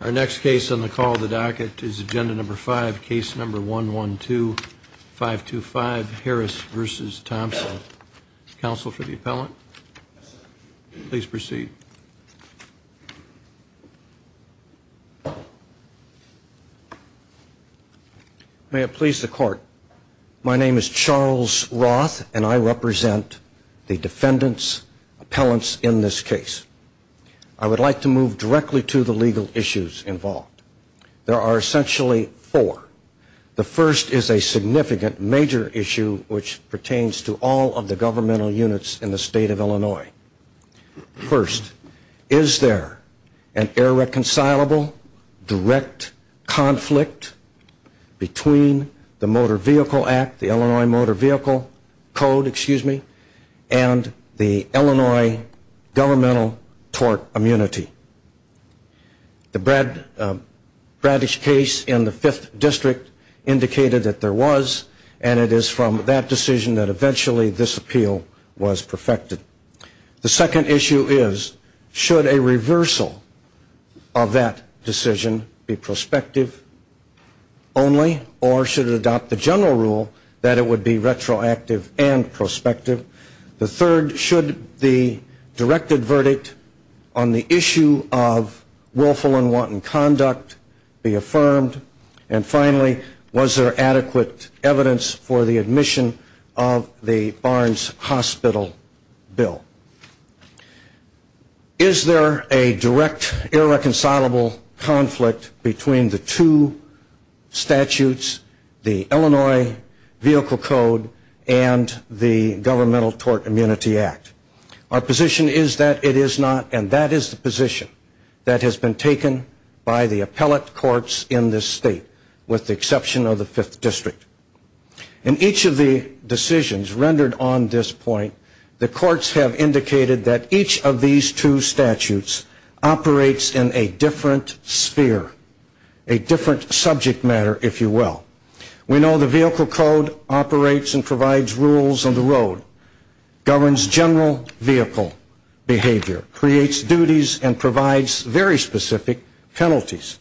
our next case on the call the docket is agenda number five case number one one two five two five Harris versus Thompson counsel for the appellant please proceed may it please the court my name is Charles Roth and I represent the of Illinois there are essentially four the first is a significant major issue which pertains to all of the governmental units in the state of Illinois first is there an irreconcilable direct conflict between the Motor Vehicle Act the Illinois Motor Vehicle Code excuse me and the Illinois governmental tort immunity the Brad Bradish case in the 5th district indicated that there was and it is from that decision that eventually this appeal was perfected the second issue is should a reversal of that decision be prospective only or should it adopt the general rule that it would be retroactive and prospective the third should the directed verdict on the issue of willful and wanton conduct be affirmed and finally was there adequate evidence for the admission of the Barnes hospital bill is there a direct irreconcilable conflict between the two statutes the Illinois vehicle code and the governmental tort immunity act our position is that it is not and that is the position that has been taken by the appellate courts in this state with the exception of the 5th district in each of the decisions rendered on this point the courts have indicated that each of these two statutes operates in a different sphere a different subject matter if you will we know the vehicle code operates and provides rules on the road governs general vehicle behavior creates duties and provides very specific penalties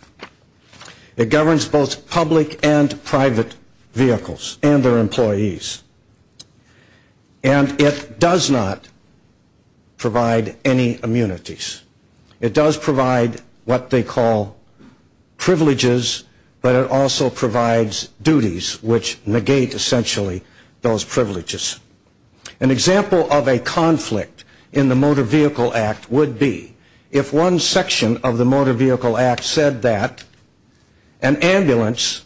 it governs both public and private vehicles and their employees and it does not provide any immunities it does provide what they call privileges but it also provides duties which negate essentially those privileges an example of a conflict in the motor vehicle act would be if one section of the motor vehicle act said that an ambulance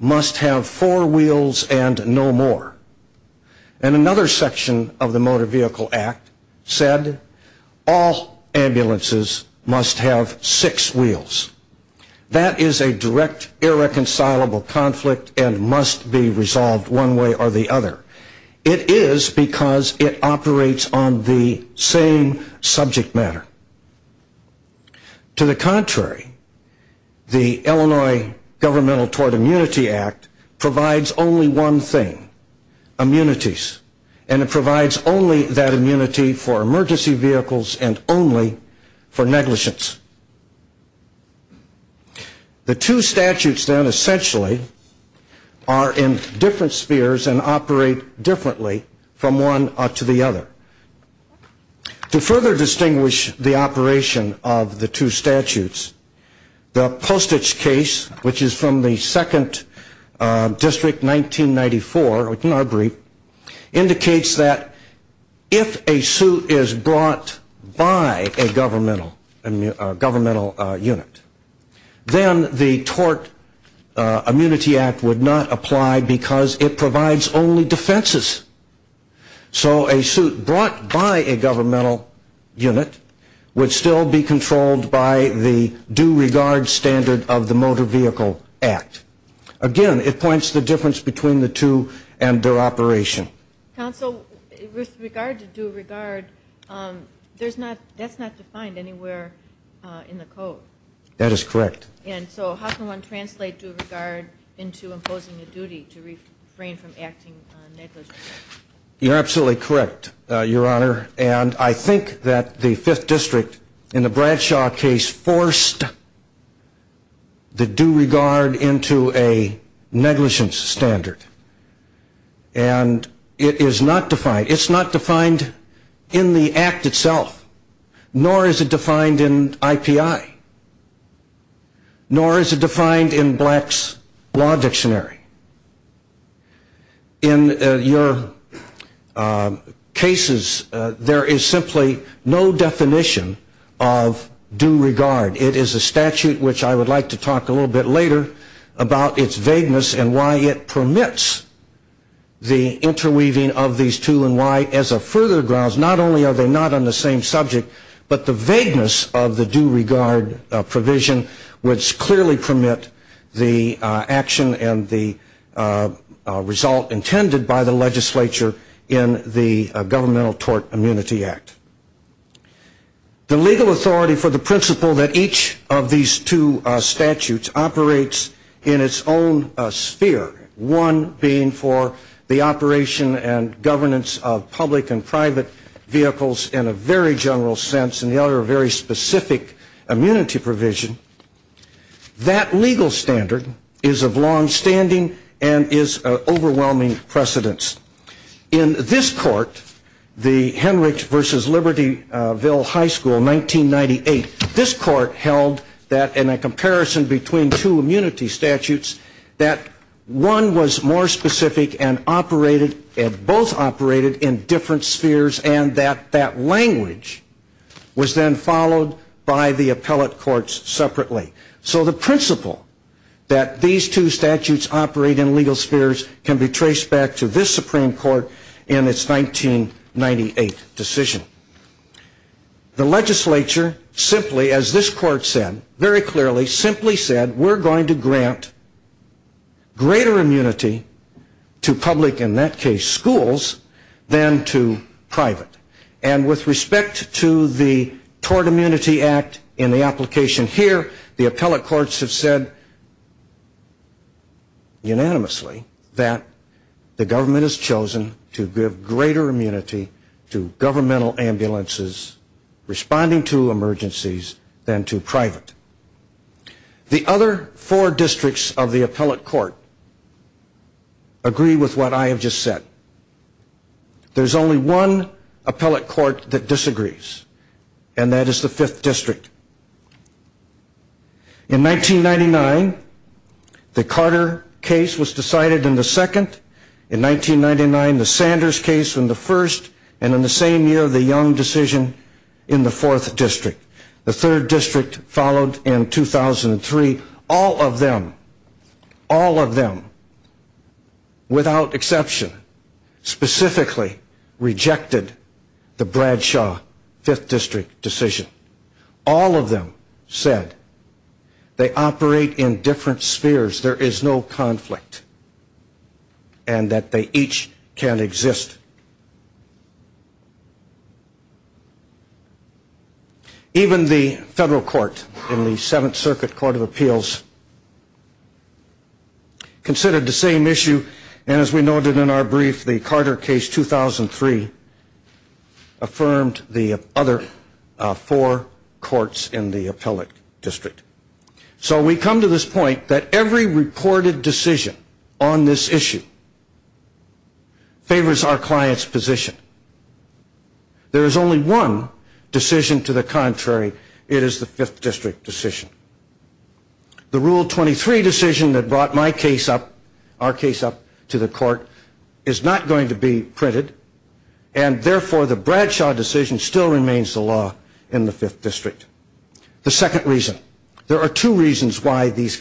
must have four wheels and no more and another section of the motor vehicle act said all ambulances must have six wheels that is a direct irreconcilable conflict and must be resolved one way or the other it is because it operates on the same subject matter to the contrary the Illinois governmental tort immunity act provides only one thing immunities and it provides only that immunity for emergency vehicles and only for negligence the two statutes then essentially are in different spheres and operate differently from one to the other to further distinguish the operation of the two statutes the postage case which is from the second district 1994 indicates that if a suit is brought by a governmental unit then the tort immunity act would not apply because it provides only defenses so a suit brought by a governmental unit would still be controlled by the due regard standard of the motor vehicle act again it points to the difference between the two and their operation counsel with regard to due regard that's not defined anywhere in the code that is correct and so how can one translate due regard into imposing a duty to refrain from acting negligently you're absolutely correct your honor and I think that the fifth district in the Bradshaw case forced the due regard into a negligence standard and it is not defined it's not defined in the act itself nor is it defined in IPI nor is it defined in blacks law dictionary in your cases there is simply no definition of due regard it is a statute which I would like to talk a little bit later about its vagueness and why it permits the interweaving of these two and why as a further grounds not only are they not on the same subject but the vagueness of the due regard provision which clearly permit the action and the result intended by the legislature in the governmental tort immunity act the legal authority for the principle that each of these two statutes operates in its own sphere one being for the operation and governance of public and private vehicles in a very general sense and the other a very specific immunity provision that legal standard is of long standing and is of overwhelming precedence in this court the Henrich versus Libertyville high school 1998 this court held that in a comparison between two immunity statutes that one was more specific and operated and both operated in different spheres and that that language was then followed by the appellate court's subpoena so the principle that these two statutes operate in legal spheres can be traced back to this supreme court in its 1998 decision the legislature simply as this court said very clearly simply said we're going to grant greater immunity to public in that case schools than to private and with respect to the tort immunity act in the application here the appellate courts have said unanimously that the government has chosen to give greater immunity to governmental ambulances responding to emergencies than to private the other four districts of the appellate court agree with what I have just said there's only one appellate court that disagrees and that is the fifth district in 1999 the Carter case was decided in the second in 1999 the Sanders case in the first and in the same year the Young decision in the fourth district the third district followed in 2003 all of them all of them without exception specifically rejected the Bradshaw fifth district decision all of them said they operate in different spheres there is no conflict and that they each can exist even the federal court in the seventh circuit court of appeals considered the same issue and as we noted in our brief the Carter case 2003 affirmed the other four courts in the appellate district so we come to this point that every reported decision on this issue favors our client's position there is only one decision to the contrary it is the fifth district decision the rule 23 decision that brought my case up our case up to the court is not going to be printed and therefore the Bradshaw decision still remains the law in the fifth district the second reason there are two reasons why these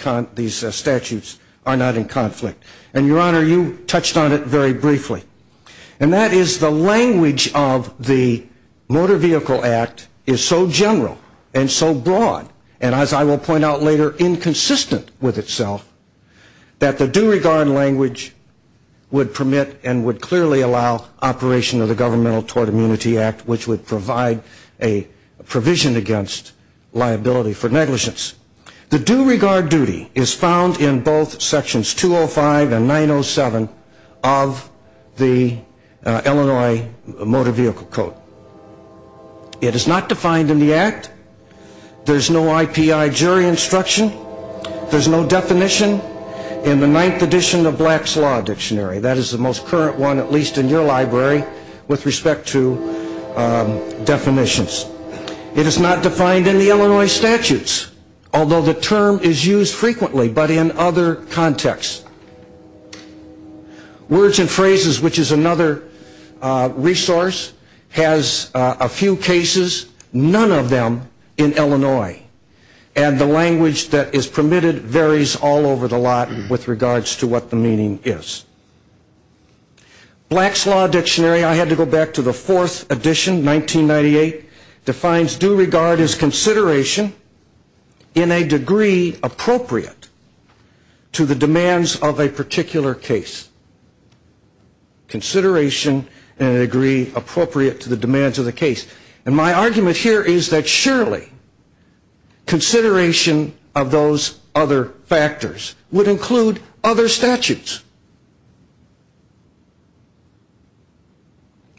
statutes are not in conflict and your honor you touched on it very briefly and that is the language of the motor vehicle act is so general and so broad and as I will point out later inconsistent with itself that the due regard language would permit and would clearly allow operation of the governmental tort immunity act which would provide a provision against the use of the motor vehicle act the due regard duty is found in both sections 205 and 907 of the Illinois motor vehicle code it is not defined in the act there is no I.P.I. jury instruction there is no definition in the ninth edition of black's law dictionary that is the most current one at least in your library with respect to definitions it is not defined in the Illinois statutes although the term is used frequently but in other contexts words and phrases which is another resource has a few cases none of them in Illinois and the language that is permitted varies all over the lot with regards to what the meaning is black's law dictionary I had to go back to the fourth edition 1998 defines due regard as consideration in a degree appropriate to the demands of a particular case consideration in a degree appropriate to the demands of the case and my argument here is that surely consideration of those other factors would include other statutes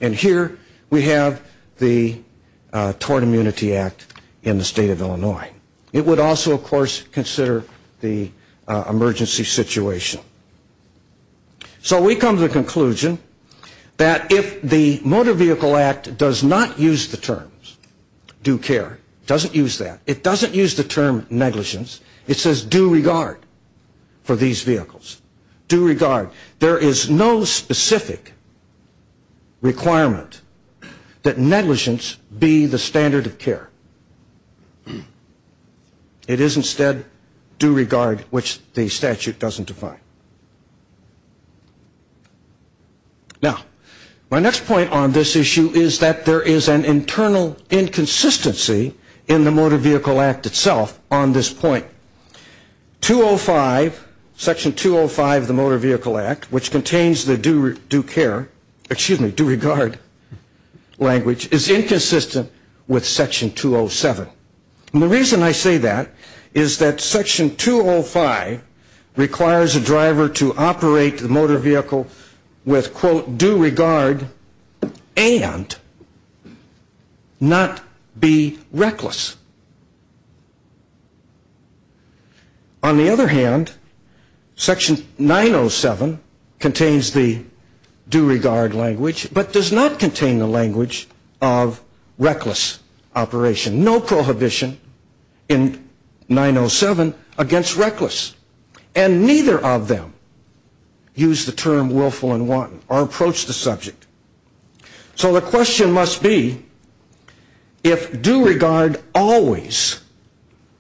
and here we have the tort immunity act in the state of Illinois it would also of course consider the emergency situation so we come to the conclusion that if the motor vehicle act does not use the terms due care doesn't use that it doesn't use the term negligence it says due regard for these vehicles due regard there is no specific requirement that negligence be the standard of care it is instead due regard which the statute doesn't define now my next point on this issue is that there is an internal inconsistency in the motor vehicle act itself on this point 205 section 205 of the motor vehicle act which contains the due care excuse me due regard language is inconsistent with section 207 and the reason I say that is that section 205 requires a driver to operate the motor vehicle with quote due regard and not be reckless on the other hand section 907 contains the due regard language but does not contain the language of reckless operation no prohibition in 907 against reckless and neither of them use the term willful and wanton or approach the subject so the question must be if due regard always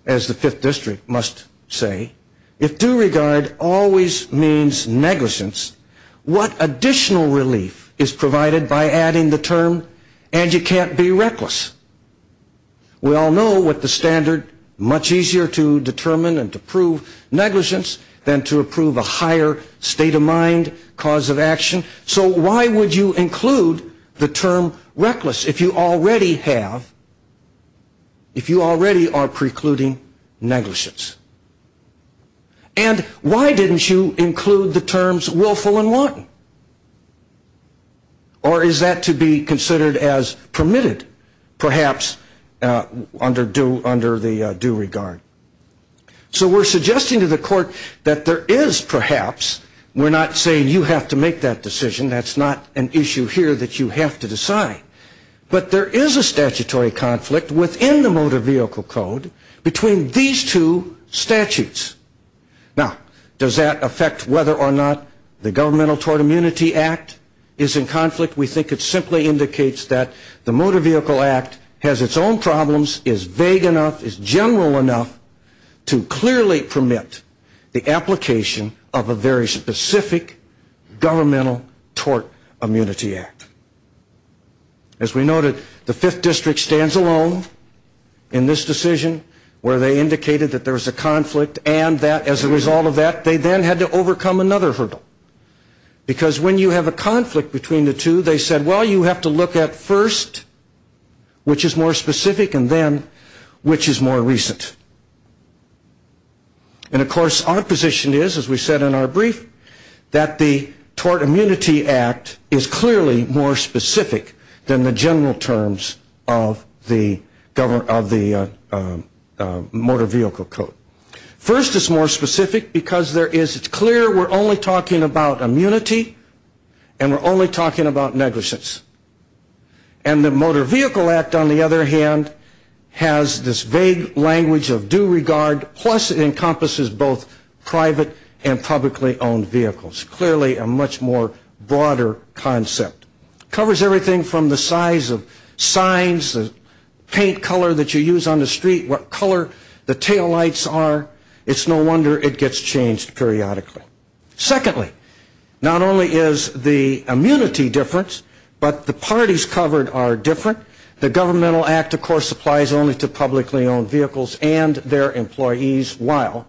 as the fifth district must say if due regard always means negligence what additional relief is provided by adding the term and you can't be reckless we all know what the standard much easier to determine and to prove negligence than to approve a higher state of mind cause of action so why would you include the term reckless if you already have if you already are precluding negligence and why didn't you include the terms willful and wanton or is that to be considered as permitted perhaps under the due regard so we're suggesting to the court that there is perhaps we're not saying you have to make that decision that's not an issue here that you have to decide but there is a statutory conflict within the motor vehicle code between these two statutes now does that affect whether or not the governmental tort immunity act is in conflict we think it simply indicates that the motor vehicle act has its own problems is vague enough is general enough to clearly permit the application of a very specific governmental tort immunity act as we noted the fifth district stands alone in this decision where they indicated that there was a conflict and that as a result of that they then had to overcome another hurdle because when you have a conflict between the two they said well you have to look at first which is more specific and then which is more recent and of course our position is as we said in our brief that the tort immunity act is clearly more specific than the general terms of the motor vehicle code first it's more specific because there is it's clear we're only talking about immunity and we're only talking about negligence and the motor vehicle act on the other hand has this vague language of due regard plus it encompasses both private and publicly owned vehicles clearly a much more broader concept covers everything from the size of signs paint color that you use on the street what color the taillights are it's no wonder it gets changed periodically secondly not only is the immunity difference but the parties covered are different the governmental act of course applies only to publicly owned vehicles and their employees while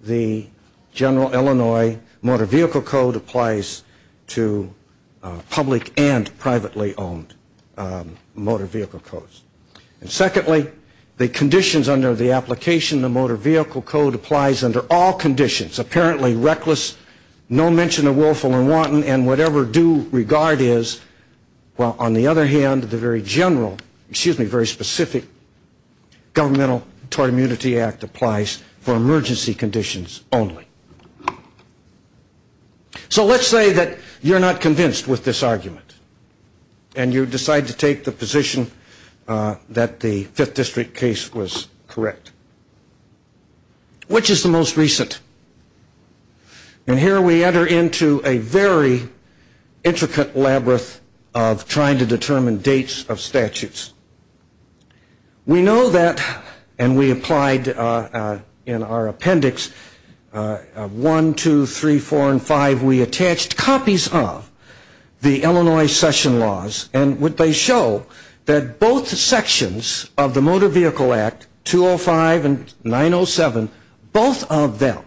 the general Illinois motor vehicle code applies to public and privately owned motor vehicle codes and secondly the conditions under the application the motor vehicle code applies under all conditions apparently reckless no mention of willful and wanton and whatever due regard is while on the other hand the very general excuse me very specific governmental tort immunity act applies for emergency conditions only so let's say that you're not convinced with this argument and you decide to take the position that the 5th district case was correct which is the most recent and here we enter into a very intricate labyrinth of trying to determine dates of statutes we know that and we applied in our appendix 1, 2, 3, 4, and 5 we attached copies of the Illinois session laws and what they show that both sections of the motor vehicle act 205 and 907 both of them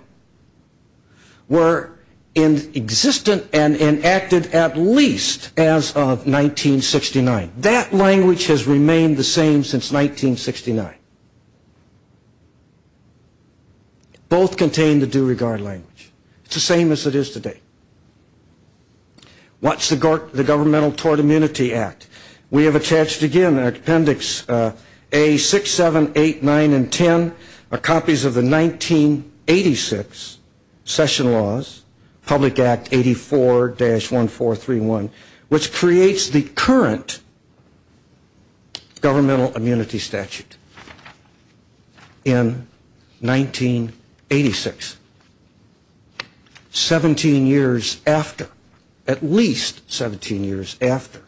were in existent and enacted at least as of 1969 that language has remained the same since 1969 both contain the due regard language it's the same as it is today what's the governmental tort immunity act we have attached again our appendix A6789 and 10 are copies of the 1986 session laws public act 84-1431 which creates the current governmental immunity statute in 1986 17 years after at least 17 years after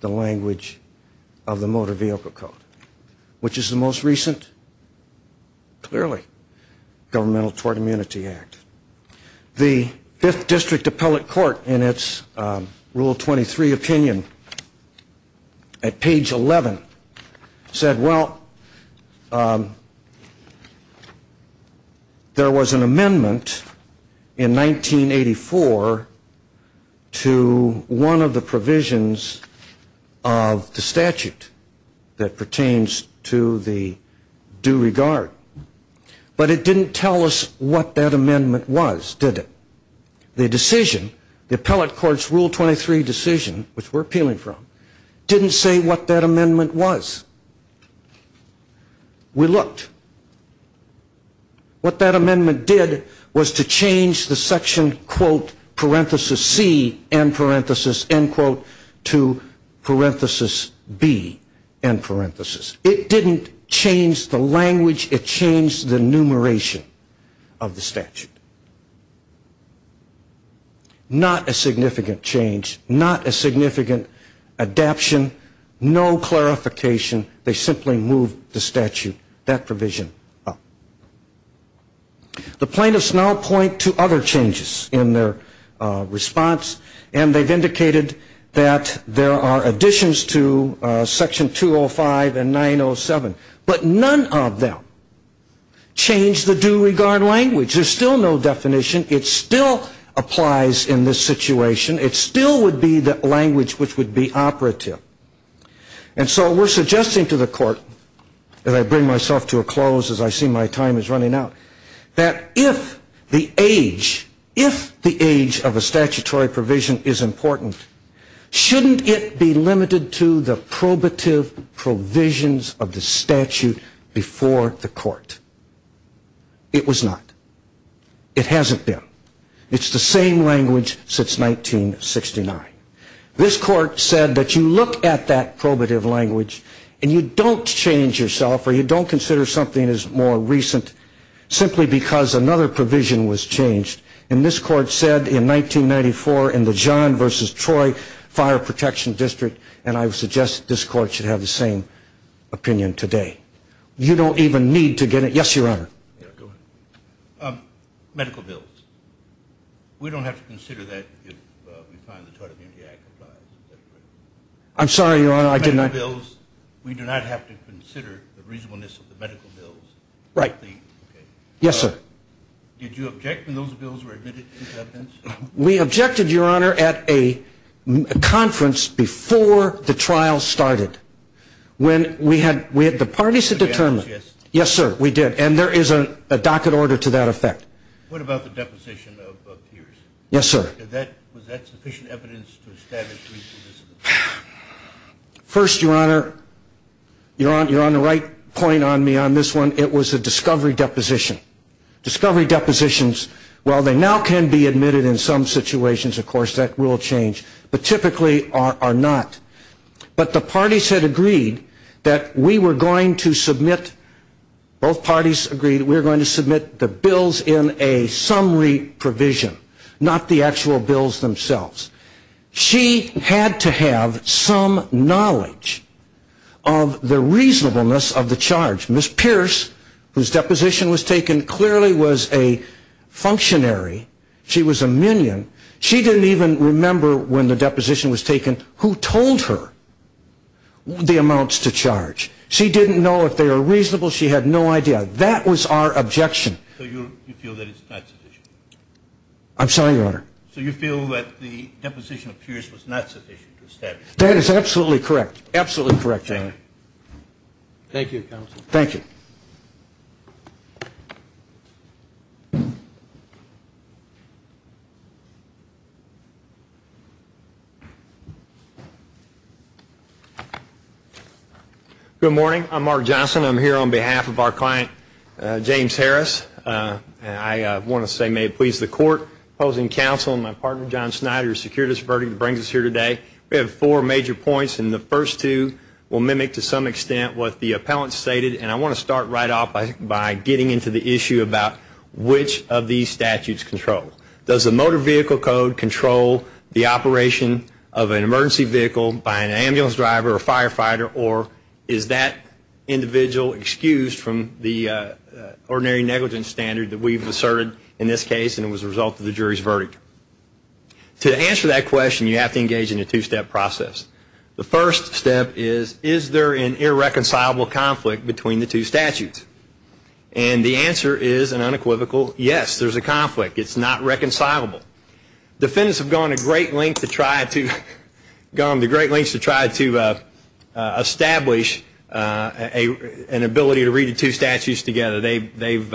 the language of the motor vehicle code which is the most recent clearly governmental tort immunity act the 5th district appellate court in its rule 23 opinion at page 11 said well there was an amendment in 1984 to one of the provisions of the statute that pertains to the due regard but it didn't tell us what that amendment was did it the decision the appellate court's rule 23 decision which we're appealing from didn't say what that amendment was we looked what that amendment did was to change the section quote parenthesis C and parenthesis end quote to parenthesis B and parenthesis it didn't change the language it changed the enumeration of the statute not a significant change not a significant adaption no clarification they simply move the statute that provision up the plaintiffs now point to other changes in their response and they've indicated that there are additions to section 205 and 907 but none of them change the due regard language there's still no definition it still applies in this situation it still would be the language which would be operative and so we're suggesting to the court as I bring myself to a close as I see my time is running out that if the age if the age of a statutory provision is important shouldn't it be limited to the probative provisions of the statute before the court it was not it hasn't been it's the same language since 1969 this court said that you look at that probative language and you don't change yourself or you don't consider something as more recent simply because another provision was changed and this court said in 1994 in the John versus Troy fire protection district and I've suggested this court should have the same opinion today you don't even need to get it yes your honor medical bills we don't have to consider that I'm sorry your honor I did not bills we do not have to consider the reasonableness of the medical bills right yes sir did you object in those bills were admitted we objected your honor at a conference before the trial started when we had we had the parties to determine yes sir we did and there is a docket order to that effect what about the deposition of peers yes sir that was that sufficient evidence to establish legal dissonance first your honor you're on you're on the right point on me on this one it was a discovery deposition discovery depositions well they now can be admitted in some situations of course that will change but typically are not but the parties had agreed that we were going to submit both parties agreed we're going to submit a docket order to that effect we're going to submit the bills in a summary provision not the actual bills themselves she had to have some knowledge of the reasonableness of the charge Miss Pierce whose deposition was taken clearly was a functionary she was a minion she didn't even remember when the deposition was taken who told her the amounts to charge she didn't know if they were reasonable she had no idea that was our ability to do that objection I'm sorry your honor so you feel that the deposition of peers was not sufficient to establish that is absolutely correct absolutely correct thank you thank you Good morning I'm Mark Johnson I'm here on behalf of our client James Harris and I want to say may it please the court opposing counsel and my partner John Snyder secured this verdict brings us here today we have four major points and the first two will mimic to some extent what the appellant stated and I want to start right off by getting into the issue about which of the two is the one that we're going to look at today. Which of these statutes control does a motor vehicle code control the operation of an emergency vehicle by an ambulance driver or firefighter or is that individual excused from the ordinary negligence standard that we've asserted in this case and it was a result of the jury's verdict to answer that question you have to engage in a two-step process. The first step is is there an irreconcilable conflict between the two statutes and the answer is an unequivocal yes there's a conflict it's not reconcilable. Defendants have gone to great lengths to try to establish an ability to read the two statutes together they've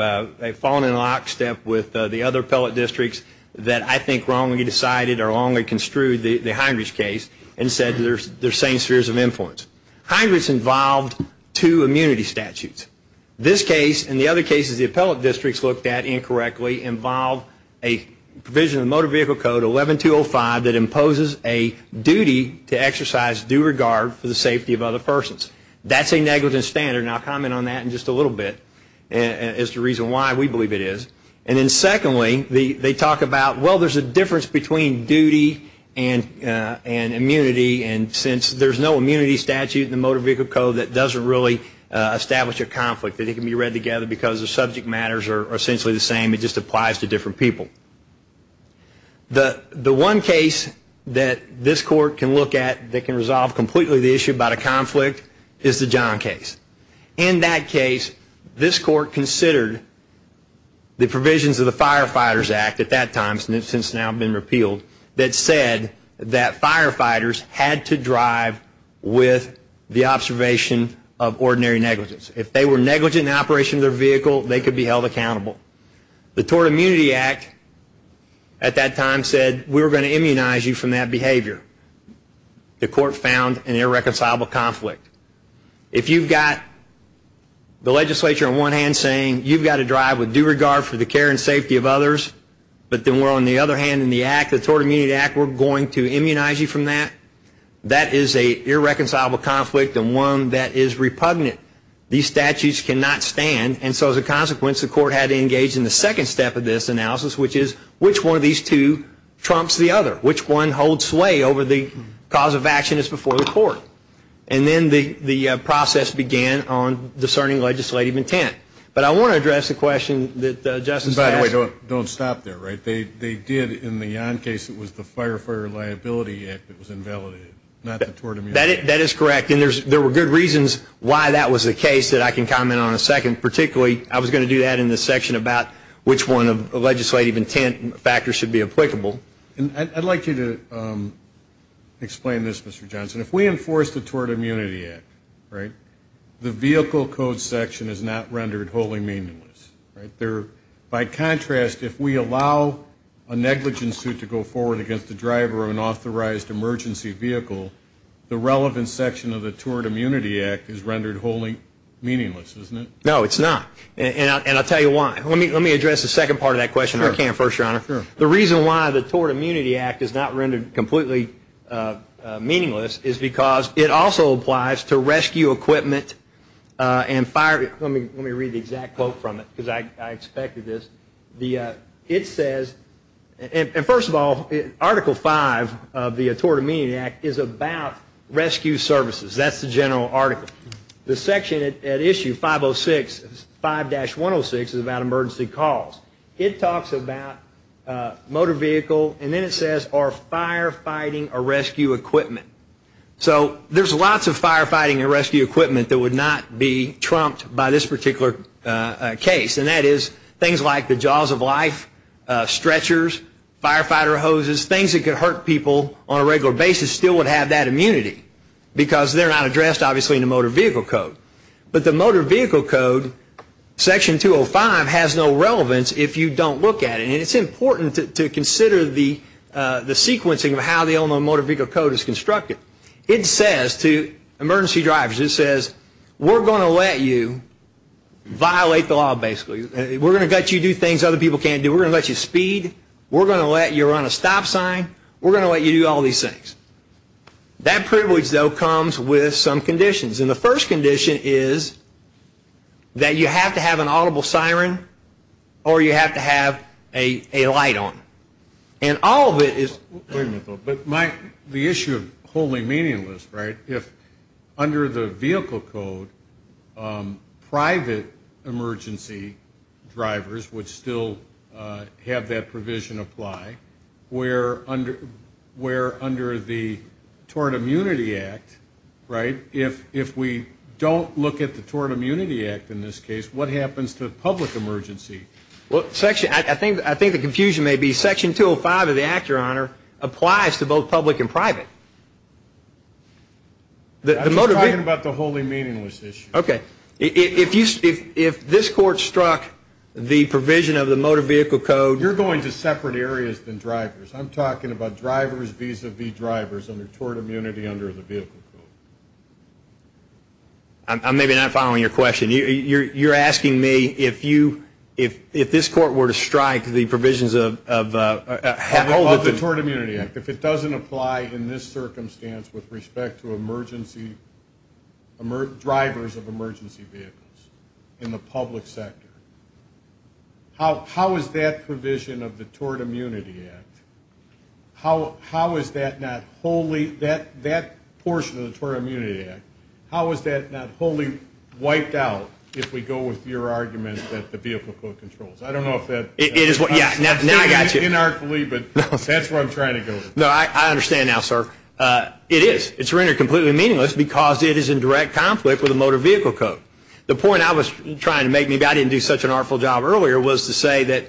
fallen in lockstep with the other appellate districts that I think wrongly decided or wrongly construed the hindrance case and said there's same spheres of influence. Hindrance involved two immunity statutes. This case and the other cases the appellate districts looked at incorrectly involved a provision of motor vehicle code 11205 that imposes a duty to exercise due regard for the safety of other persons. That's a negligence standard and I'll comment on that in just a little bit as to the reason why we believe it is. And then secondly they talk about well there's a difference between duty and immunity and since there's no immunity statute in the motor vehicle code that doesn't really establish a conflict that it can be read together because the subject matters are essentially the same it just applies to different people. The one case that this court can look at that can resolve completely the issue about a conflict is the John case. In that case this court considered the provisions of the Firefighters Act at that time since it's now been repealed that said that firefighters had to drive with the observation of ordinary negligence. If they were negligent in the operation of their vehicle they could be held accountable. The Tort Immunity Act at that time said we were going to immunize you from that behavior. The court found an irreconcilable conflict. If you've got the legislature on one hand saying you've got to drive with due regard for the care and safety of others but then we're on the other hand in the Tort Immunity Act we're going to immunize you from that. That is an irreconcilable conflict and one that is repugnant. These statutes cannot stand and so as a consequence the court had to engage in the second step of this analysis which is which one of these two trumps the other. Which one holds sway over the cause of action is before the court. And then the process began on discerning legislative intent. But I want to address the question that Justice- And by the way don't stop there. They did in the John case it was the Firefighter Liability Act that was invalidated not the Tort Immunity Act. That is correct and there were good reasons why that was the case that I can comment on in a second. Particularly I was going to do that in this section about which one of the legislative intent factors should be applicable. I'd like you to explain this Mr. Johnson. If we enforce the Tort Immunity Act the vehicle code section is not rendered wholly meaningless. By contrast if we allow a negligent suit to go forward against the driver of an authorized emergency vehicle the relevant section of the Tort Immunity Act is rendered wholly meaningless isn't it? No it's not and I'll tell you why. Let me address the second part of that question if I can First Your Honor. Sure. The reason why the Tort Immunity Act is not rendered completely meaningless is because it also applies to rescue equipment and fire- Let me read the exact quote from it because I expected this. It says and first of all Article 5 of the Tort Immunity Act is about rescue services. That's the general article. The section at issue 506, 5-106 is about emergency calls. It talks about motor vehicle and then it says are firefighting a rescue equipment. So there's lots of firefighting and rescue equipment that would not be trumped by this particular case and that is things like the Jaws of Life, stretchers, firefighter hoses, things that could hurt people on a regular basis still would have that immunity because they're not addressed obviously in the motor vehicle code. But the motor vehicle code Section 205 has no relevance if you don't look at it. And it's important to consider the sequencing of how the Illinois Motor Vehicle Code is constructed. It says to emergency drivers it says we're going to let you violate the law basically. We're going to let you do things other people can't do. We're going to let you speed. We're going to let you run a stop sign. We're going to let you do all these things. That privilege though comes with some conditions. And the first condition is that you have to have an audible siren or you have to have a light on. And all of it is. But Mike, the issue of wholly meaningless, right? If under the vehicle code private emergency drivers would still have that provision apply where under the Tort Immunity Act, right, if we don't look at the Tort Immunity Act in this case, what happens to public emergency? Well, I think the confusion may be Section 205 of the Act, Your Honor, applies to both public and private. I'm talking about the wholly meaningless issue. Okay. If this Court struck the provision of the Motor Vehicle Code. You're going to separate areas than drivers. I'm talking about drivers vis-a-vis drivers under Tort Immunity under the Vehicle Code. I'm maybe not following your question. You're asking me if this Court were to strike the provisions of the Tort Immunity Act, if it doesn't apply in this circumstance with respect to drivers of emergency vehicles in the public sector, how is that provision of the Tort Immunity Act, how is that not wholly, that portion of the Tort Immunity Act, how is that not wholly wiped out if we go with your argument that the Vehicle Code controls? I don't know if that. It is. Now I got you. Inartfully, but that's where I'm trying to go. No, I understand now, sir. It is. It's rendered completely meaningless because it is in direct conflict with the Motor Vehicle Code. The point I was trying to make, maybe I didn't do such an artful job earlier, was to say that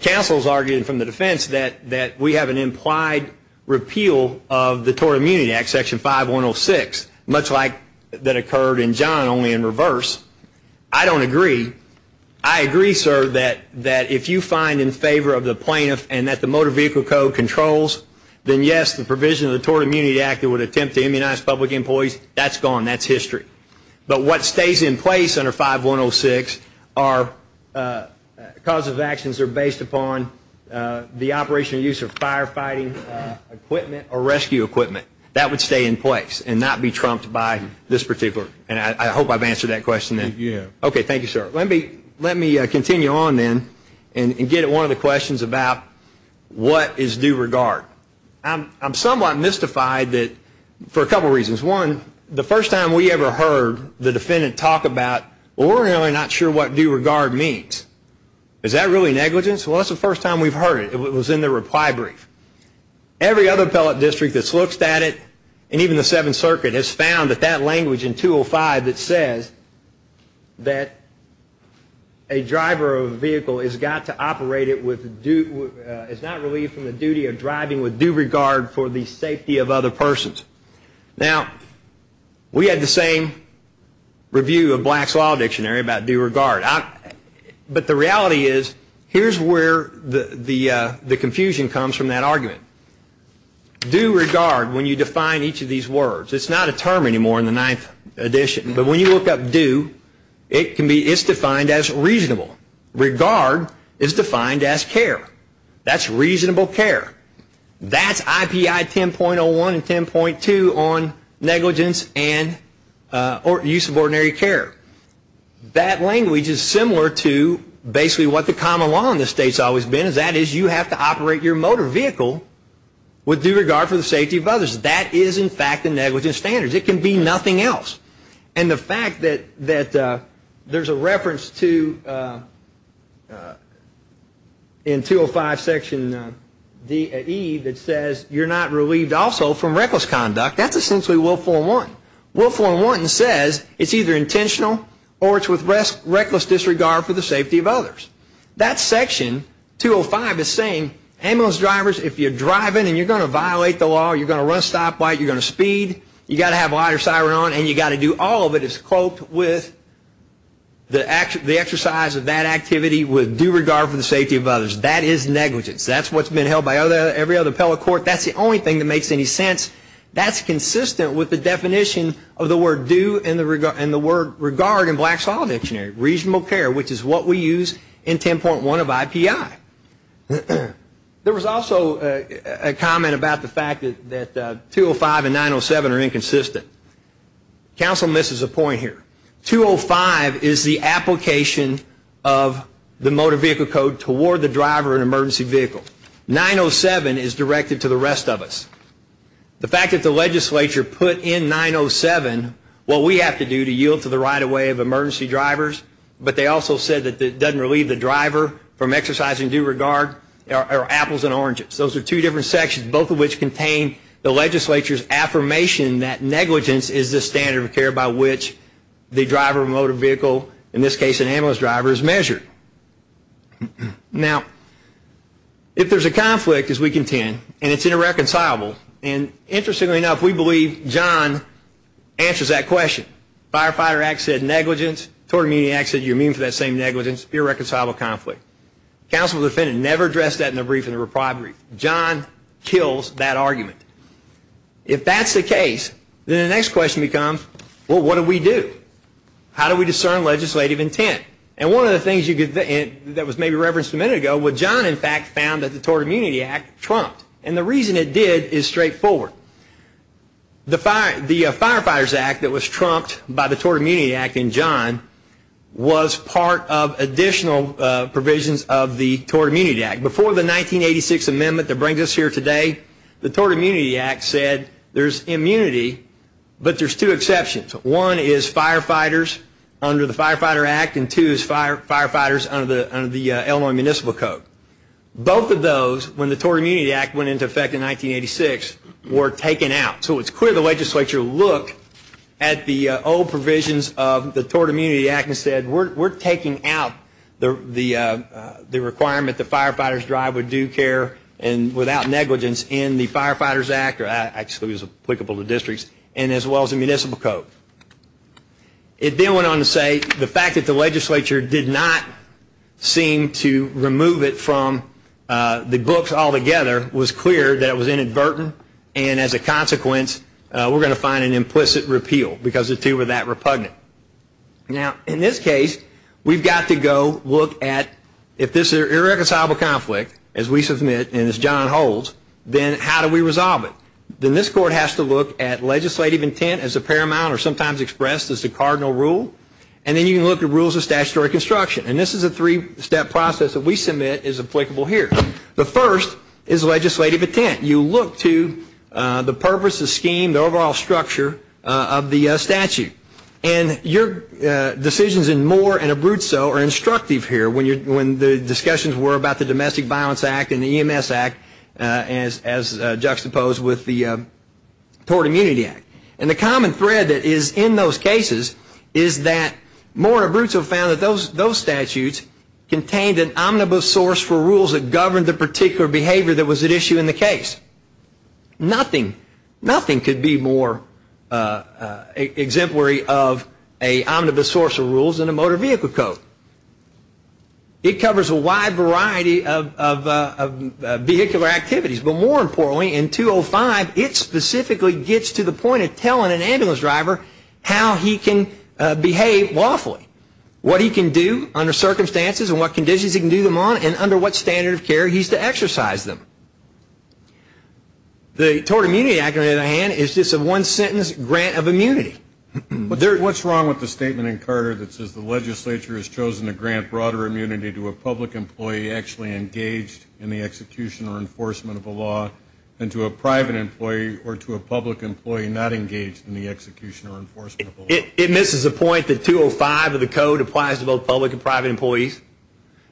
counsel is arguing from the defense that we have an implied repeal of the Tort Immunity Act, Section 5106, much like that occurred in John, only in reverse. I don't agree. I agree, sir, that if you find in favor of the plaintiff and that the Motor Vehicle Code controls, then yes, the provision of the Tort Immunity Act that would attempt to immunize public employees, that's gone. That's history. But what stays in place under 5106 are causes of actions that are based upon the operation and use of firefighting equipment or rescue equipment. That would stay in place and not be trumped by this particular. And I hope I've answered that question then. Yes. Okay, thank you, sir. Let me continue on then and get at one of the questions about what is due regard. I'm somewhat mystified for a couple of reasons. One, the first time we ever heard the defendant talk about, well, we're really not sure what due regard means. Is that really negligence? Well, that's the first time we've heard it. It was in the reply brief. Every other appellate district that's looked at it, and even the Seventh Circuit, has found that that language in 205 that says that a driver of a vehicle has got to operate it with due, is not relieved from the duty of driving with due regard for the safety of other persons. Now, we had the same review of Black's Law Dictionary about due regard. But the reality is, here's where the confusion comes from that argument. Due regard, when you define each of these words, it's not a term anymore in the Ninth Edition, but when you look up due, it's defined as reasonable. Regard is defined as care. That's reasonable care. That's IPI 10.01 and 10.2 on negligence and use of ordinary care. That language is similar to basically what the common law in this state has always been, and that is you have to operate your motor vehicle with due regard for the safety of others. That is, in fact, a negligence standard. It can be nothing else. And the fact that there's a reference to, in 205 Section D.E., that says you're not relieved also from reckless conduct, that's essentially Will Form 1. Will Form 1 says it's either intentional or it's with reckless disregard for the safety of others. That section, 205, is saying ambulance drivers, if you're driving and you're going to violate the law, you're going to run a stoplight, you're going to speed, you've got to have a lighter siren on, and you've got to do all of it. It's cloaked with the exercise of that activity with due regard for the safety of others. That is negligence. That's what's been held by every other appellate court. That's the only thing that makes any sense. That's consistent with the definition of the word due and the word regard in Black Saw Dictionary. Reasonable care, which is what we use in 10.1 of IPI. There was also a comment about the fact that 205 and 907 are inconsistent. Counsel misses a point here. 205 is the application of the Motor Vehicle Code toward the driver of an emergency vehicle. 907 is directed to the rest of us. The fact that the legislature put in 907 what we have to do to yield to the right of way of emergency drivers, but they also said that it doesn't relieve the driver from exercising due regard are apples and oranges. Those are two different sections, both of which contain the legislature's affirmation that negligence is the standard of care by which the driver of a motor vehicle, in this case an ambulance driver, is measured. Now, if there's a conflict, as we contend, and it's irreconcilable, and interestingly enough, we believe John answers that question. The Firefighter Act said negligence. The Tort Immunity Act said you're immune from that same negligence. It's an irreconcilable conflict. The counsel to the defendant never addressed that in a brief in a reprived brief. John kills that argument. If that's the case, then the next question becomes, well, what do we do? How do we discern legislative intent? And one of the things that was maybe referenced a minute ago, what John, in fact, found that the Tort Immunity Act trumped. And the reason it did is straightforward. The Firefighters Act that was trumped by the Tort Immunity Act in John was part of additional provisions of the Tort Immunity Act. Before the 1986 amendment that brings us here today, the Tort Immunity Act said there's immunity, but there's two exceptions. One is firefighters under the Firefighter Act, and two is firefighters under the Illinois Municipal Code. Both of those, when the Tort Immunity Act went into effect in 1986, were taken out. So it's clear the legislature looked at the old provisions of the Tort Immunity Act and said we're taking out the requirement that firefighters drive with due care and without negligence in the Firefighters Act, or actually it was applicable to districts, and as well as the Municipal Code. It then went on to say the fact that the legislature did not seem to remove it from the books altogether was clear that it was inadvertent, and as a consequence, we're going to find an implicit repeal because the two were that repugnant. Now, in this case, we've got to go look at if this is an irreconcilable conflict, as we submit, and as John holds, then how do we resolve it? Then this Court has to look at legislative intent as a paramount or sometimes expressed as a cardinal rule, and then you can look at rules of statutory construction, and this is a three-step process that we submit is applicable here. The first is legislative intent. You look to the purpose, the scheme, the overall structure of the statute, and your decisions in Moore and Abruzzo are instructive here. When the discussions were about the Domestic Violence Act and the EMS Act, as juxtaposed with the Tort Immunity Act, and the common thread that is in those cases is that Moore and Abruzzo found that those statutes contained an omnibus source for rules that governed the particular behavior that was at issue in the case. Nothing could be more exemplary of an omnibus source of rules than a motor vehicle code. It covers a wide variety of vehicular activities, but more importantly, in 205, it specifically gets to the point of telling an ambulance driver how he can behave lawfully, what he can do under circumstances and what conditions he can do them on, and under what standard of care he's to exercise them. The Tort Immunity Act, on the other hand, is just a one-sentence grant of immunity. What's wrong with the statement in Carter that says the legislature has chosen to grant broader immunity to a public employee actually engaged in the execution or enforcement of a law than to a private employee or to a public employee not engaged in the execution or enforcement of a law? It misses the point that 205 of the code applies to both public and private employees,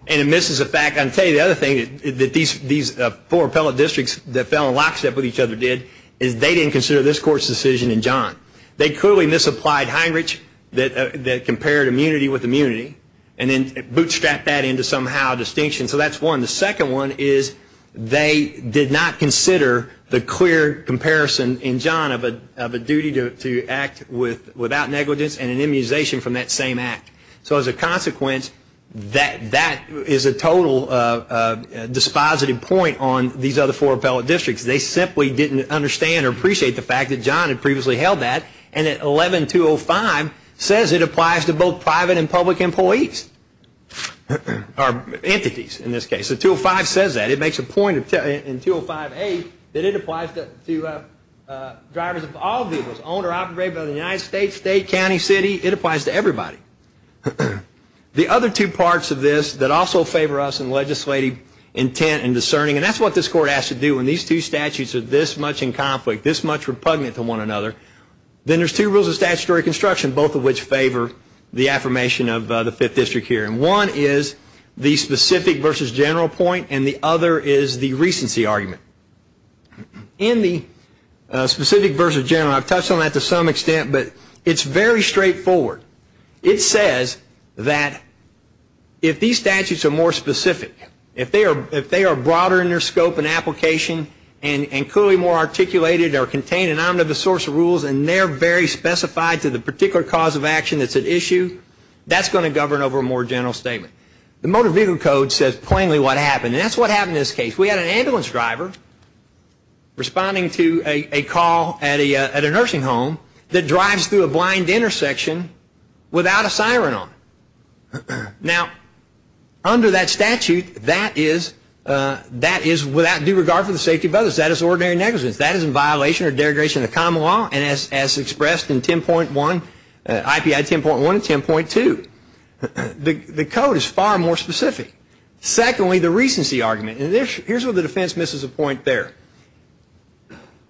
and it misses the fact, I'll tell you the other thing, that these four appellate districts that fell in lockstep with each other did, is they didn't consider this Court's decision in John. They clearly misapplied Heinrich that compared immunity with immunity and then bootstrapped that into somehow distinction. So that's one. The second one is they did not consider the clear comparison in John of a duty to act without negligence and an immunization from that same act. So as a consequence, that is a total dispositive point on these other four appellate districts. They simply didn't understand or appreciate the fact that John had previously held that and that 11205 says it applies to both private and public employees, or entities in this case. The 205 says that. It makes a point in 205A that it applies to drivers of all vehicles, owned or operated by the United States, state, county, city. It applies to everybody. The other two parts of this that also favor us in legislative intent and discerning, and that's what this Court has to do when these two statutes are this much in conflict, this much repugnant to one another, then there's two rules of statutory construction, both of which favor the affirmation of the Fifth District here. One is the specific versus general point and the other is the recency argument. In the specific versus general, I've touched on that to some extent, but it's very straightforward. It says that if these statutes are more specific, if they are broader in their scope and application and clearly more articulated or contain an omnibus source of rules and they're very specified to the particular cause of action that's at issue, that's going to govern over a more general statement. The Motor Vehicle Code says plainly what happened, and that's what happened in this case. We had an ambulance driver responding to a call at a nursing home that drives through a blind intersection without a siren on. Now, under that statute, that is without due regard for the safety of others. That is ordinary negligence. That is in violation or derogation of the common law and as expressed in IPI 10.1 and 10.2, the code is far more specific. Secondly, the recency argument, and here's where the defense misses a point there.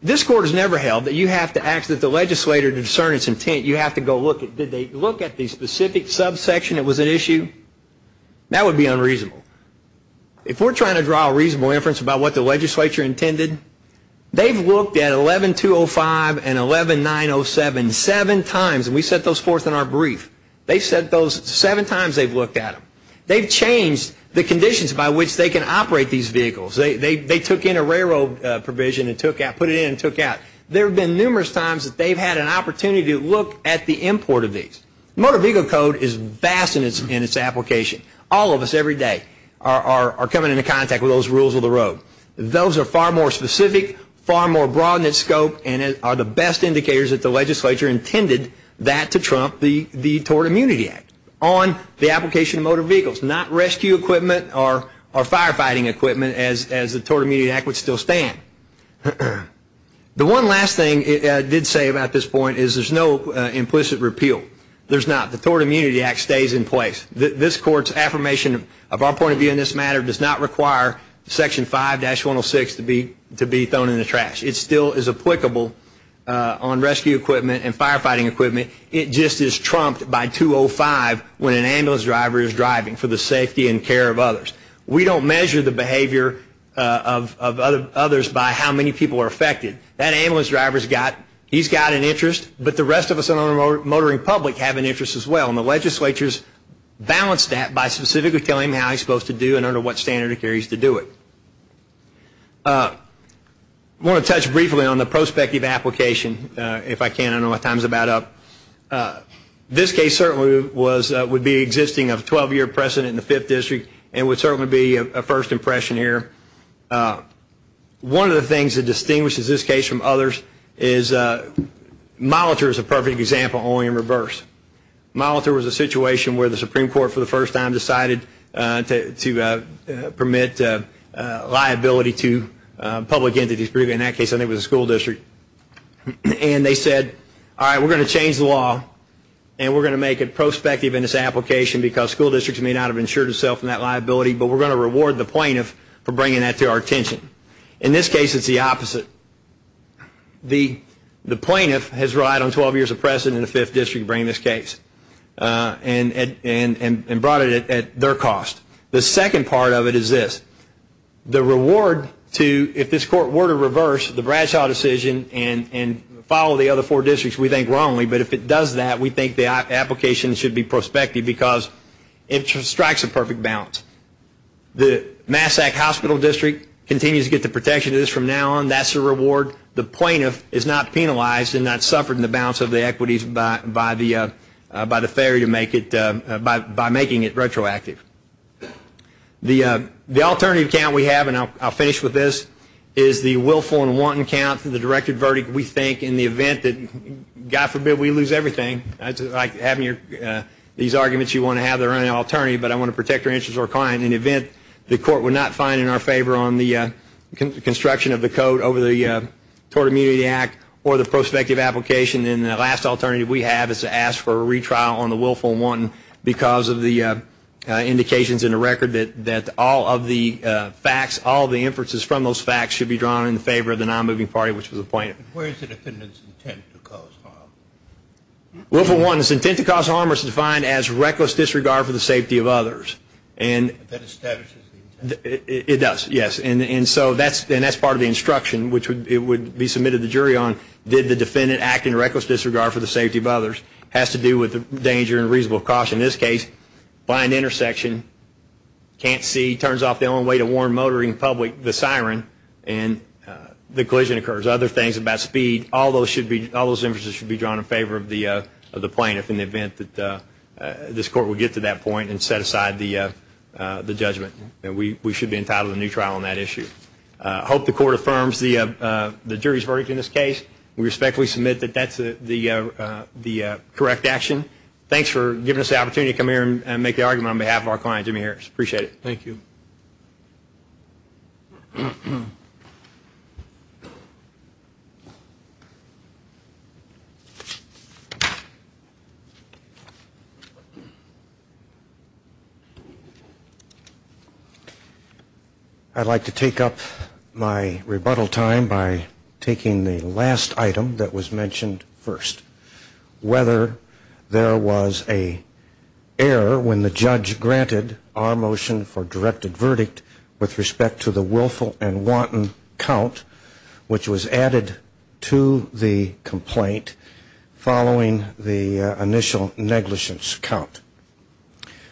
This Court has never held that you have to ask that the legislator discern its intent. Did they look at the specific subsection that was at issue? That would be unreasonable. If we're trying to draw a reasonable inference about what the legislature intended, they've looked at 11.205 and 11.907 seven times, and we set those forth in our brief. They've said those seven times they've looked at them. They've changed the conditions by which they can operate these vehicles. They took in a railroad provision and put it in and took out. There have been numerous times that they've had an opportunity to look at the import of these. Motor vehicle code is vast in its application. All of us every day are coming into contact with those rules of the road. Those are far more specific, far more broad in its scope, and are the best indicators that the legislature intended that to trump the Tort Immunity Act on the application of motor vehicles, not rescue equipment or firefighting equipment as the Tort Immunity Act would still stand. The one last thing I did say about this point is there's no implicit repeal. There's not. The Tort Immunity Act stays in place. This Court's affirmation of our point of view in this matter does not require Section 5-106 to be thrown in the trash. It still is applicable on rescue equipment and firefighting equipment. It just is trumped by 205 when an ambulance driver is driving for the safety and care of others. We don't measure the behavior of others by how many people are affected. That ambulance driver, he's got an interest, but the rest of us in our motoring public have an interest as well, and the legislature's balanced that by specifically telling him how he's supposed to do it and under what standard of care he's to do it. I want to touch briefly on the prospective application. If I can, I don't know what time is about up. This case certainly would be existing of a 12-year precedent in the Fifth District and would certainly be a first impression here. One of the things that distinguishes this case from others is Molitor is a perfect example only in reverse. Molitor was a situation where the Supreme Court for the first time decided to permit liability to public entities, particularly in that case I think it was the school district, and they said, all right, we're going to change the law and we're going to make it prospective in this application because school districts may not have insured itself in that liability, but we're going to reward the plaintiff for bringing that to our attention. In this case, it's the opposite. The plaintiff has relied on 12 years of precedent in the Fifth District to bring this case and brought it at their cost. The second part of it is this. The reward to, if this court were to reverse the Bradshaw decision and follow the other four districts, we think wrongly, but if it does that, we think the application should be prospective because it strikes a perfect balance. The Massac Hospital District continues to get the protection it is from now on. That's a reward. The plaintiff is not penalized and not suffered in the balance of the equities by the failure to make it, by making it retroactive. The alternative account we have, and I'll finish with this, is the willful and wanton count for the directed verdict. We think in the event that, God forbid we lose everything, having these arguments you want to have, they're an alternative, but I want to protect your interests or client. In the event the court would not find in our favor on the construction of the code over the Tort Immunity Act or the prospective application, then the last alternative we have is to ask for a retrial on the willful and wanton because of the indications in the record that all of the facts, all of the inferences from those facts should be drawn in favor of the nonmoving party, which was the plaintiff. Where is the defendant's intent to cause harm? Willful and wanton's intent to cause harm is defined as reckless disregard for the safety of others. That establishes the intent. It does, yes, and that's part of the instruction, which would be submitted to the jury on, did the defendant act in reckless disregard for the safety of others, has to do with danger and reasonable caution. In this case, blind intersection, can't see, turns off the only way to warn motoring public, the siren, and the collision occurs. Other things about speed, all those inferences should be drawn in favor of the plaintiff in the event that this court would get to that point and set aside the judgment. We should be entitled to a new trial on that issue. I hope the court affirms the jury's verdict in this case. We respectfully submit that that's the correct action. Thanks for giving us the opportunity to come here and make the argument on behalf of our client, Jimmy Harris. Appreciate it. Thank you. I'd like to take up my rebuttal time by taking the last item that was mentioned first. Whether there was a error when the judge granted our motion for directed verdict with respect to the willful and wanton count, which was added to the complaint following the initial negligence count.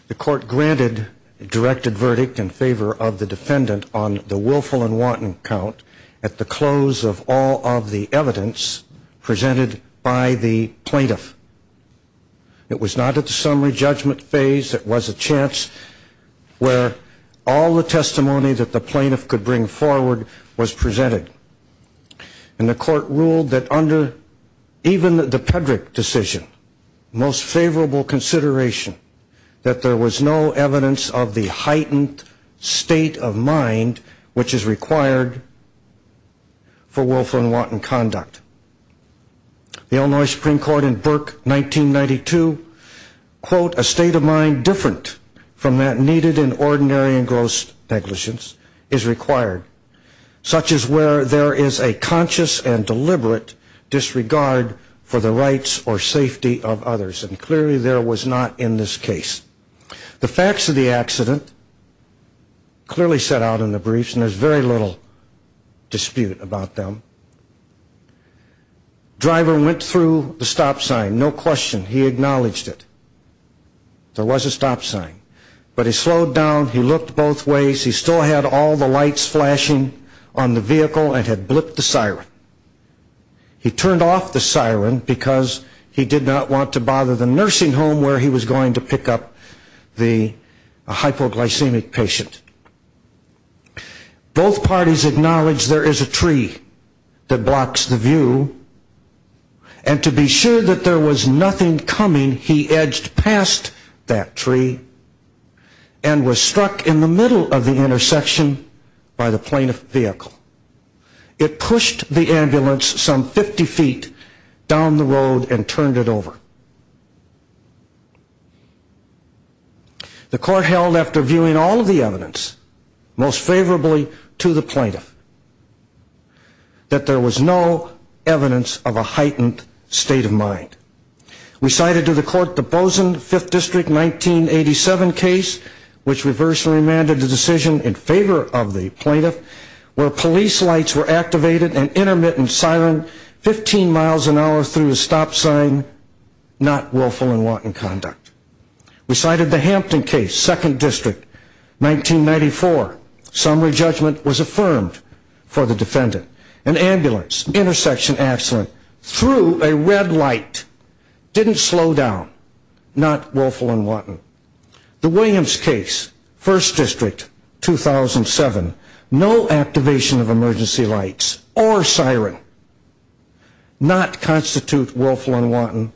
The court granted directed verdict in favor of the defendant on the willful and wanton count at the close of all of the evidence presented by the plaintiff. It was not at the summary judgment phase. It was a chance where all the testimony that the plaintiff could bring forward was presented. And the court ruled that under even the Pedrick decision, most favorable consideration, that there was no evidence of the heightened state of mind which is required for willful and wanton conduct. The Illinois Supreme Court in Burke 1992, quote, a state of mind different from that needed in ordinary and gross negligence is required. Such as where there is a conscious and deliberate disregard for the rights or safety of others. And clearly there was not in this case. The facts of the accident clearly set out in the briefs. And there's very little dispute about them. Driver went through the stop sign. No question. He acknowledged it. There was a stop sign. But he slowed down. He looked both ways. He still had all the lights flashing on the vehicle and had blipped the siren. He turned off the siren because he did not want to bother the nursing home where he was going to pick up the hypoglycemic patient. Both parties acknowledged there is a tree that blocks the view. And to be sure that there was nothing coming, he edged past that tree and was struck in the middle of the intersection by the plaintiff's vehicle. It pushed the ambulance some 50 feet down the road and turned it over. The court held after viewing all of the evidence, most favorably to the plaintiff, that there was no evidence of a heightened state of mind. We cited to the court the Bozen 5th District 1987 case, which reversed and remanded the decision in favor of the plaintiff, where police lights were activated and intermittent siren 15 miles an hour through a stop sign, not willful and wanton conduct. We cited the Hampton case, 2nd District, 1994. Summary judgment was affirmed for the defendant. An ambulance, intersection accident, through a red light, didn't slow down, not willful and wanton. The Williams case, 1st District, 2007, no activation of emergency lights or siren, not constitute willful and wanton,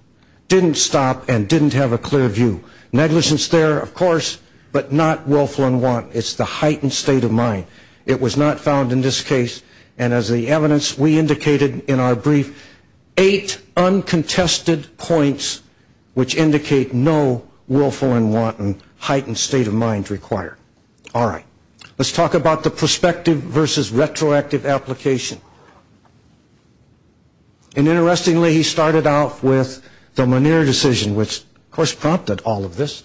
didn't stop and didn't have a clear view. Negligence there, of course, but not willful and wanton. It's the heightened state of mind. It was not found in this case, and as the evidence we indicated in our brief, eight uncontested points which indicate no willful and wanton heightened state of mind required. All right. Let's talk about the prospective versus retroactive application. And interestingly, he started out with the Muneer decision, which, of course, prompted all of this.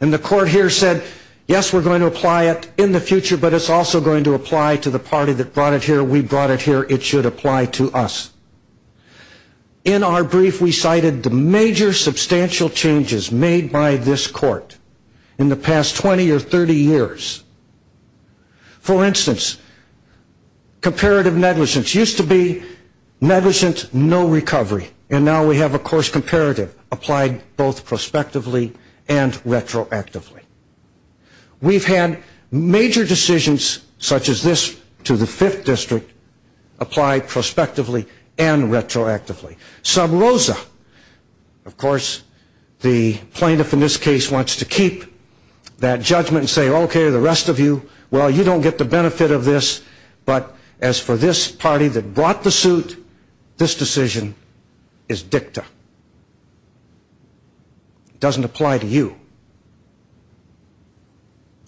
And the court here said, yes, we're going to apply it in the future, but it's also going to apply to the party that brought it here. We brought it here. It should apply to us. In our brief, we cited the major substantial changes made by this court in the past 20 or 30 years. For instance, comparative negligence used to be negligent, no recovery, and now we have, of course, comparative applied both prospectively and retroactively. We've had major decisions such as this to the 5th District applied prospectively and retroactively. Sub Rosa, of course, the plaintiff in this case wants to keep that judgment and say, okay, the rest of you, well, you don't get the benefit of this, but as for this party that brought the suit, this decision is dicta. It doesn't apply to you.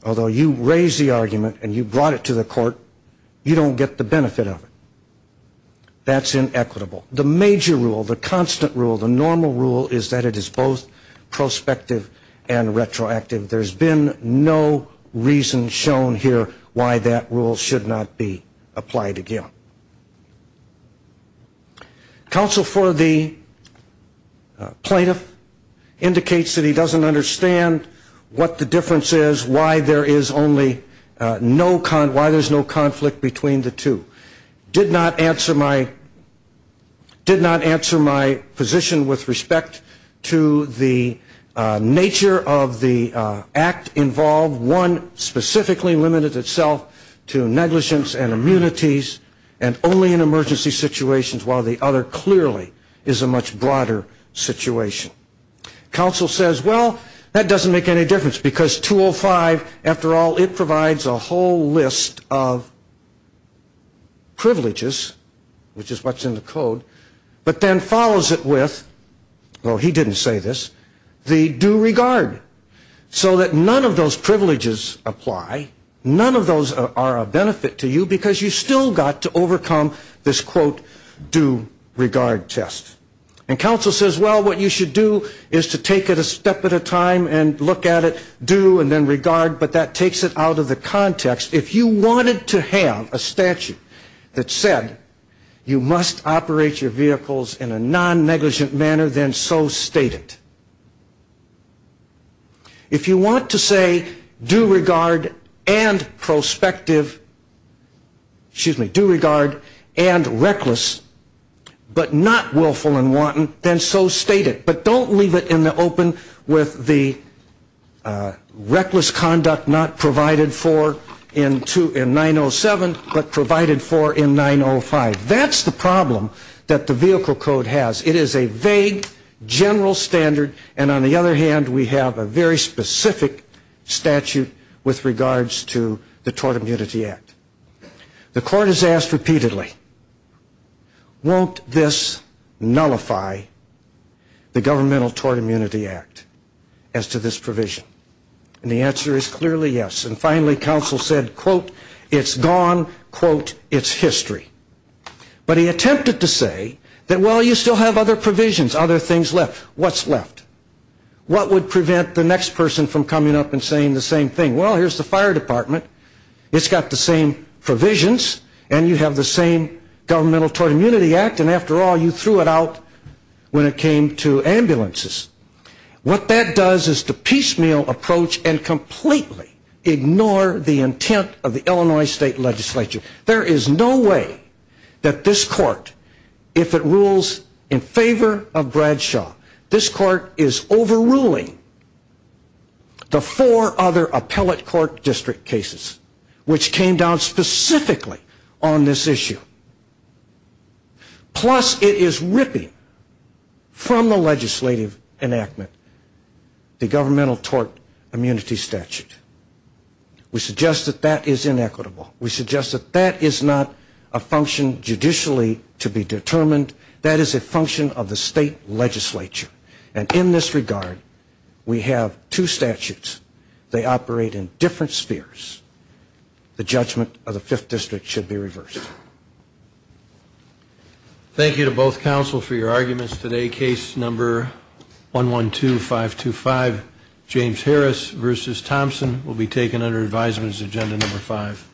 Although you raise the argument and you brought it to the court, you don't get the benefit of it. That's inequitable. The major rule, the constant rule, the normal rule is that it is both prospective and retroactive. There's been no reason shown here why that rule should not be applied again. Counsel for the plaintiff indicates that he doesn't understand what the difference is, why there is no conflict between the two. Did not answer my position with respect to the nature of the act involved. One specifically limited itself to negligence and immunities and only in emergency situations while the other clearly is a much broader situation. Counsel says, well, that doesn't make any difference because 205, after all, it provides a whole list of privileges, which is what's in the code, but then follows it with, well, he didn't say this, the due regard. So that none of those privileges apply, none of those are a benefit to you because you still got to overcome this, quote, due regard test. And counsel says, well, what you should do is to take it a step at a time and look at it, due and then regard, but that takes it out of the context. If you wanted to have a statute that said you must operate your vehicles in a non-negligent manner, then so state it. If you want to say due regard and prospective, excuse me, due regard and reckless, but not willful and wanton, then so state it, but don't leave it in the open with the reckless conduct not provided for in 907, but provided for in 905. That's the problem that the vehicle code has. It is a vague general standard, and on the other hand, we have a very specific statute with regards to the Tort Immunity Act. The court has asked repeatedly, won't this nullify the governmental Tort Immunity Act as to this provision? And the answer is clearly yes. And finally, counsel said, quote, it's gone, quote, it's history. But he attempted to say that, well, you still have other provisions, other things left. What's left? What would prevent the next person from coming up and saying the same thing? Well, here's the fire department. It's got the same provisions, and you have the same governmental Tort Immunity Act, and after all, you threw it out when it came to ambulances. What that does is to piecemeal approach and completely ignore the intent of the Illinois State Legislature. There is no way that this court, if it rules in favor of Bradshaw, this court is overruling the four other appellate court district cases, which came down specifically on this issue. Plus, it is ripping from the legislative enactment the governmental Tort Immunity Statute. We suggest that that is inequitable. We suggest that that is not a function judicially to be determined. That is a function of the state legislature. And in this regard, we have two statutes. They operate in different spheres. The judgment of the fifth district should be reversed. Thank you to both counsel for your arguments today. Case number 112-525, James Harris v. Thompson, will be taken under advisements agenda number five.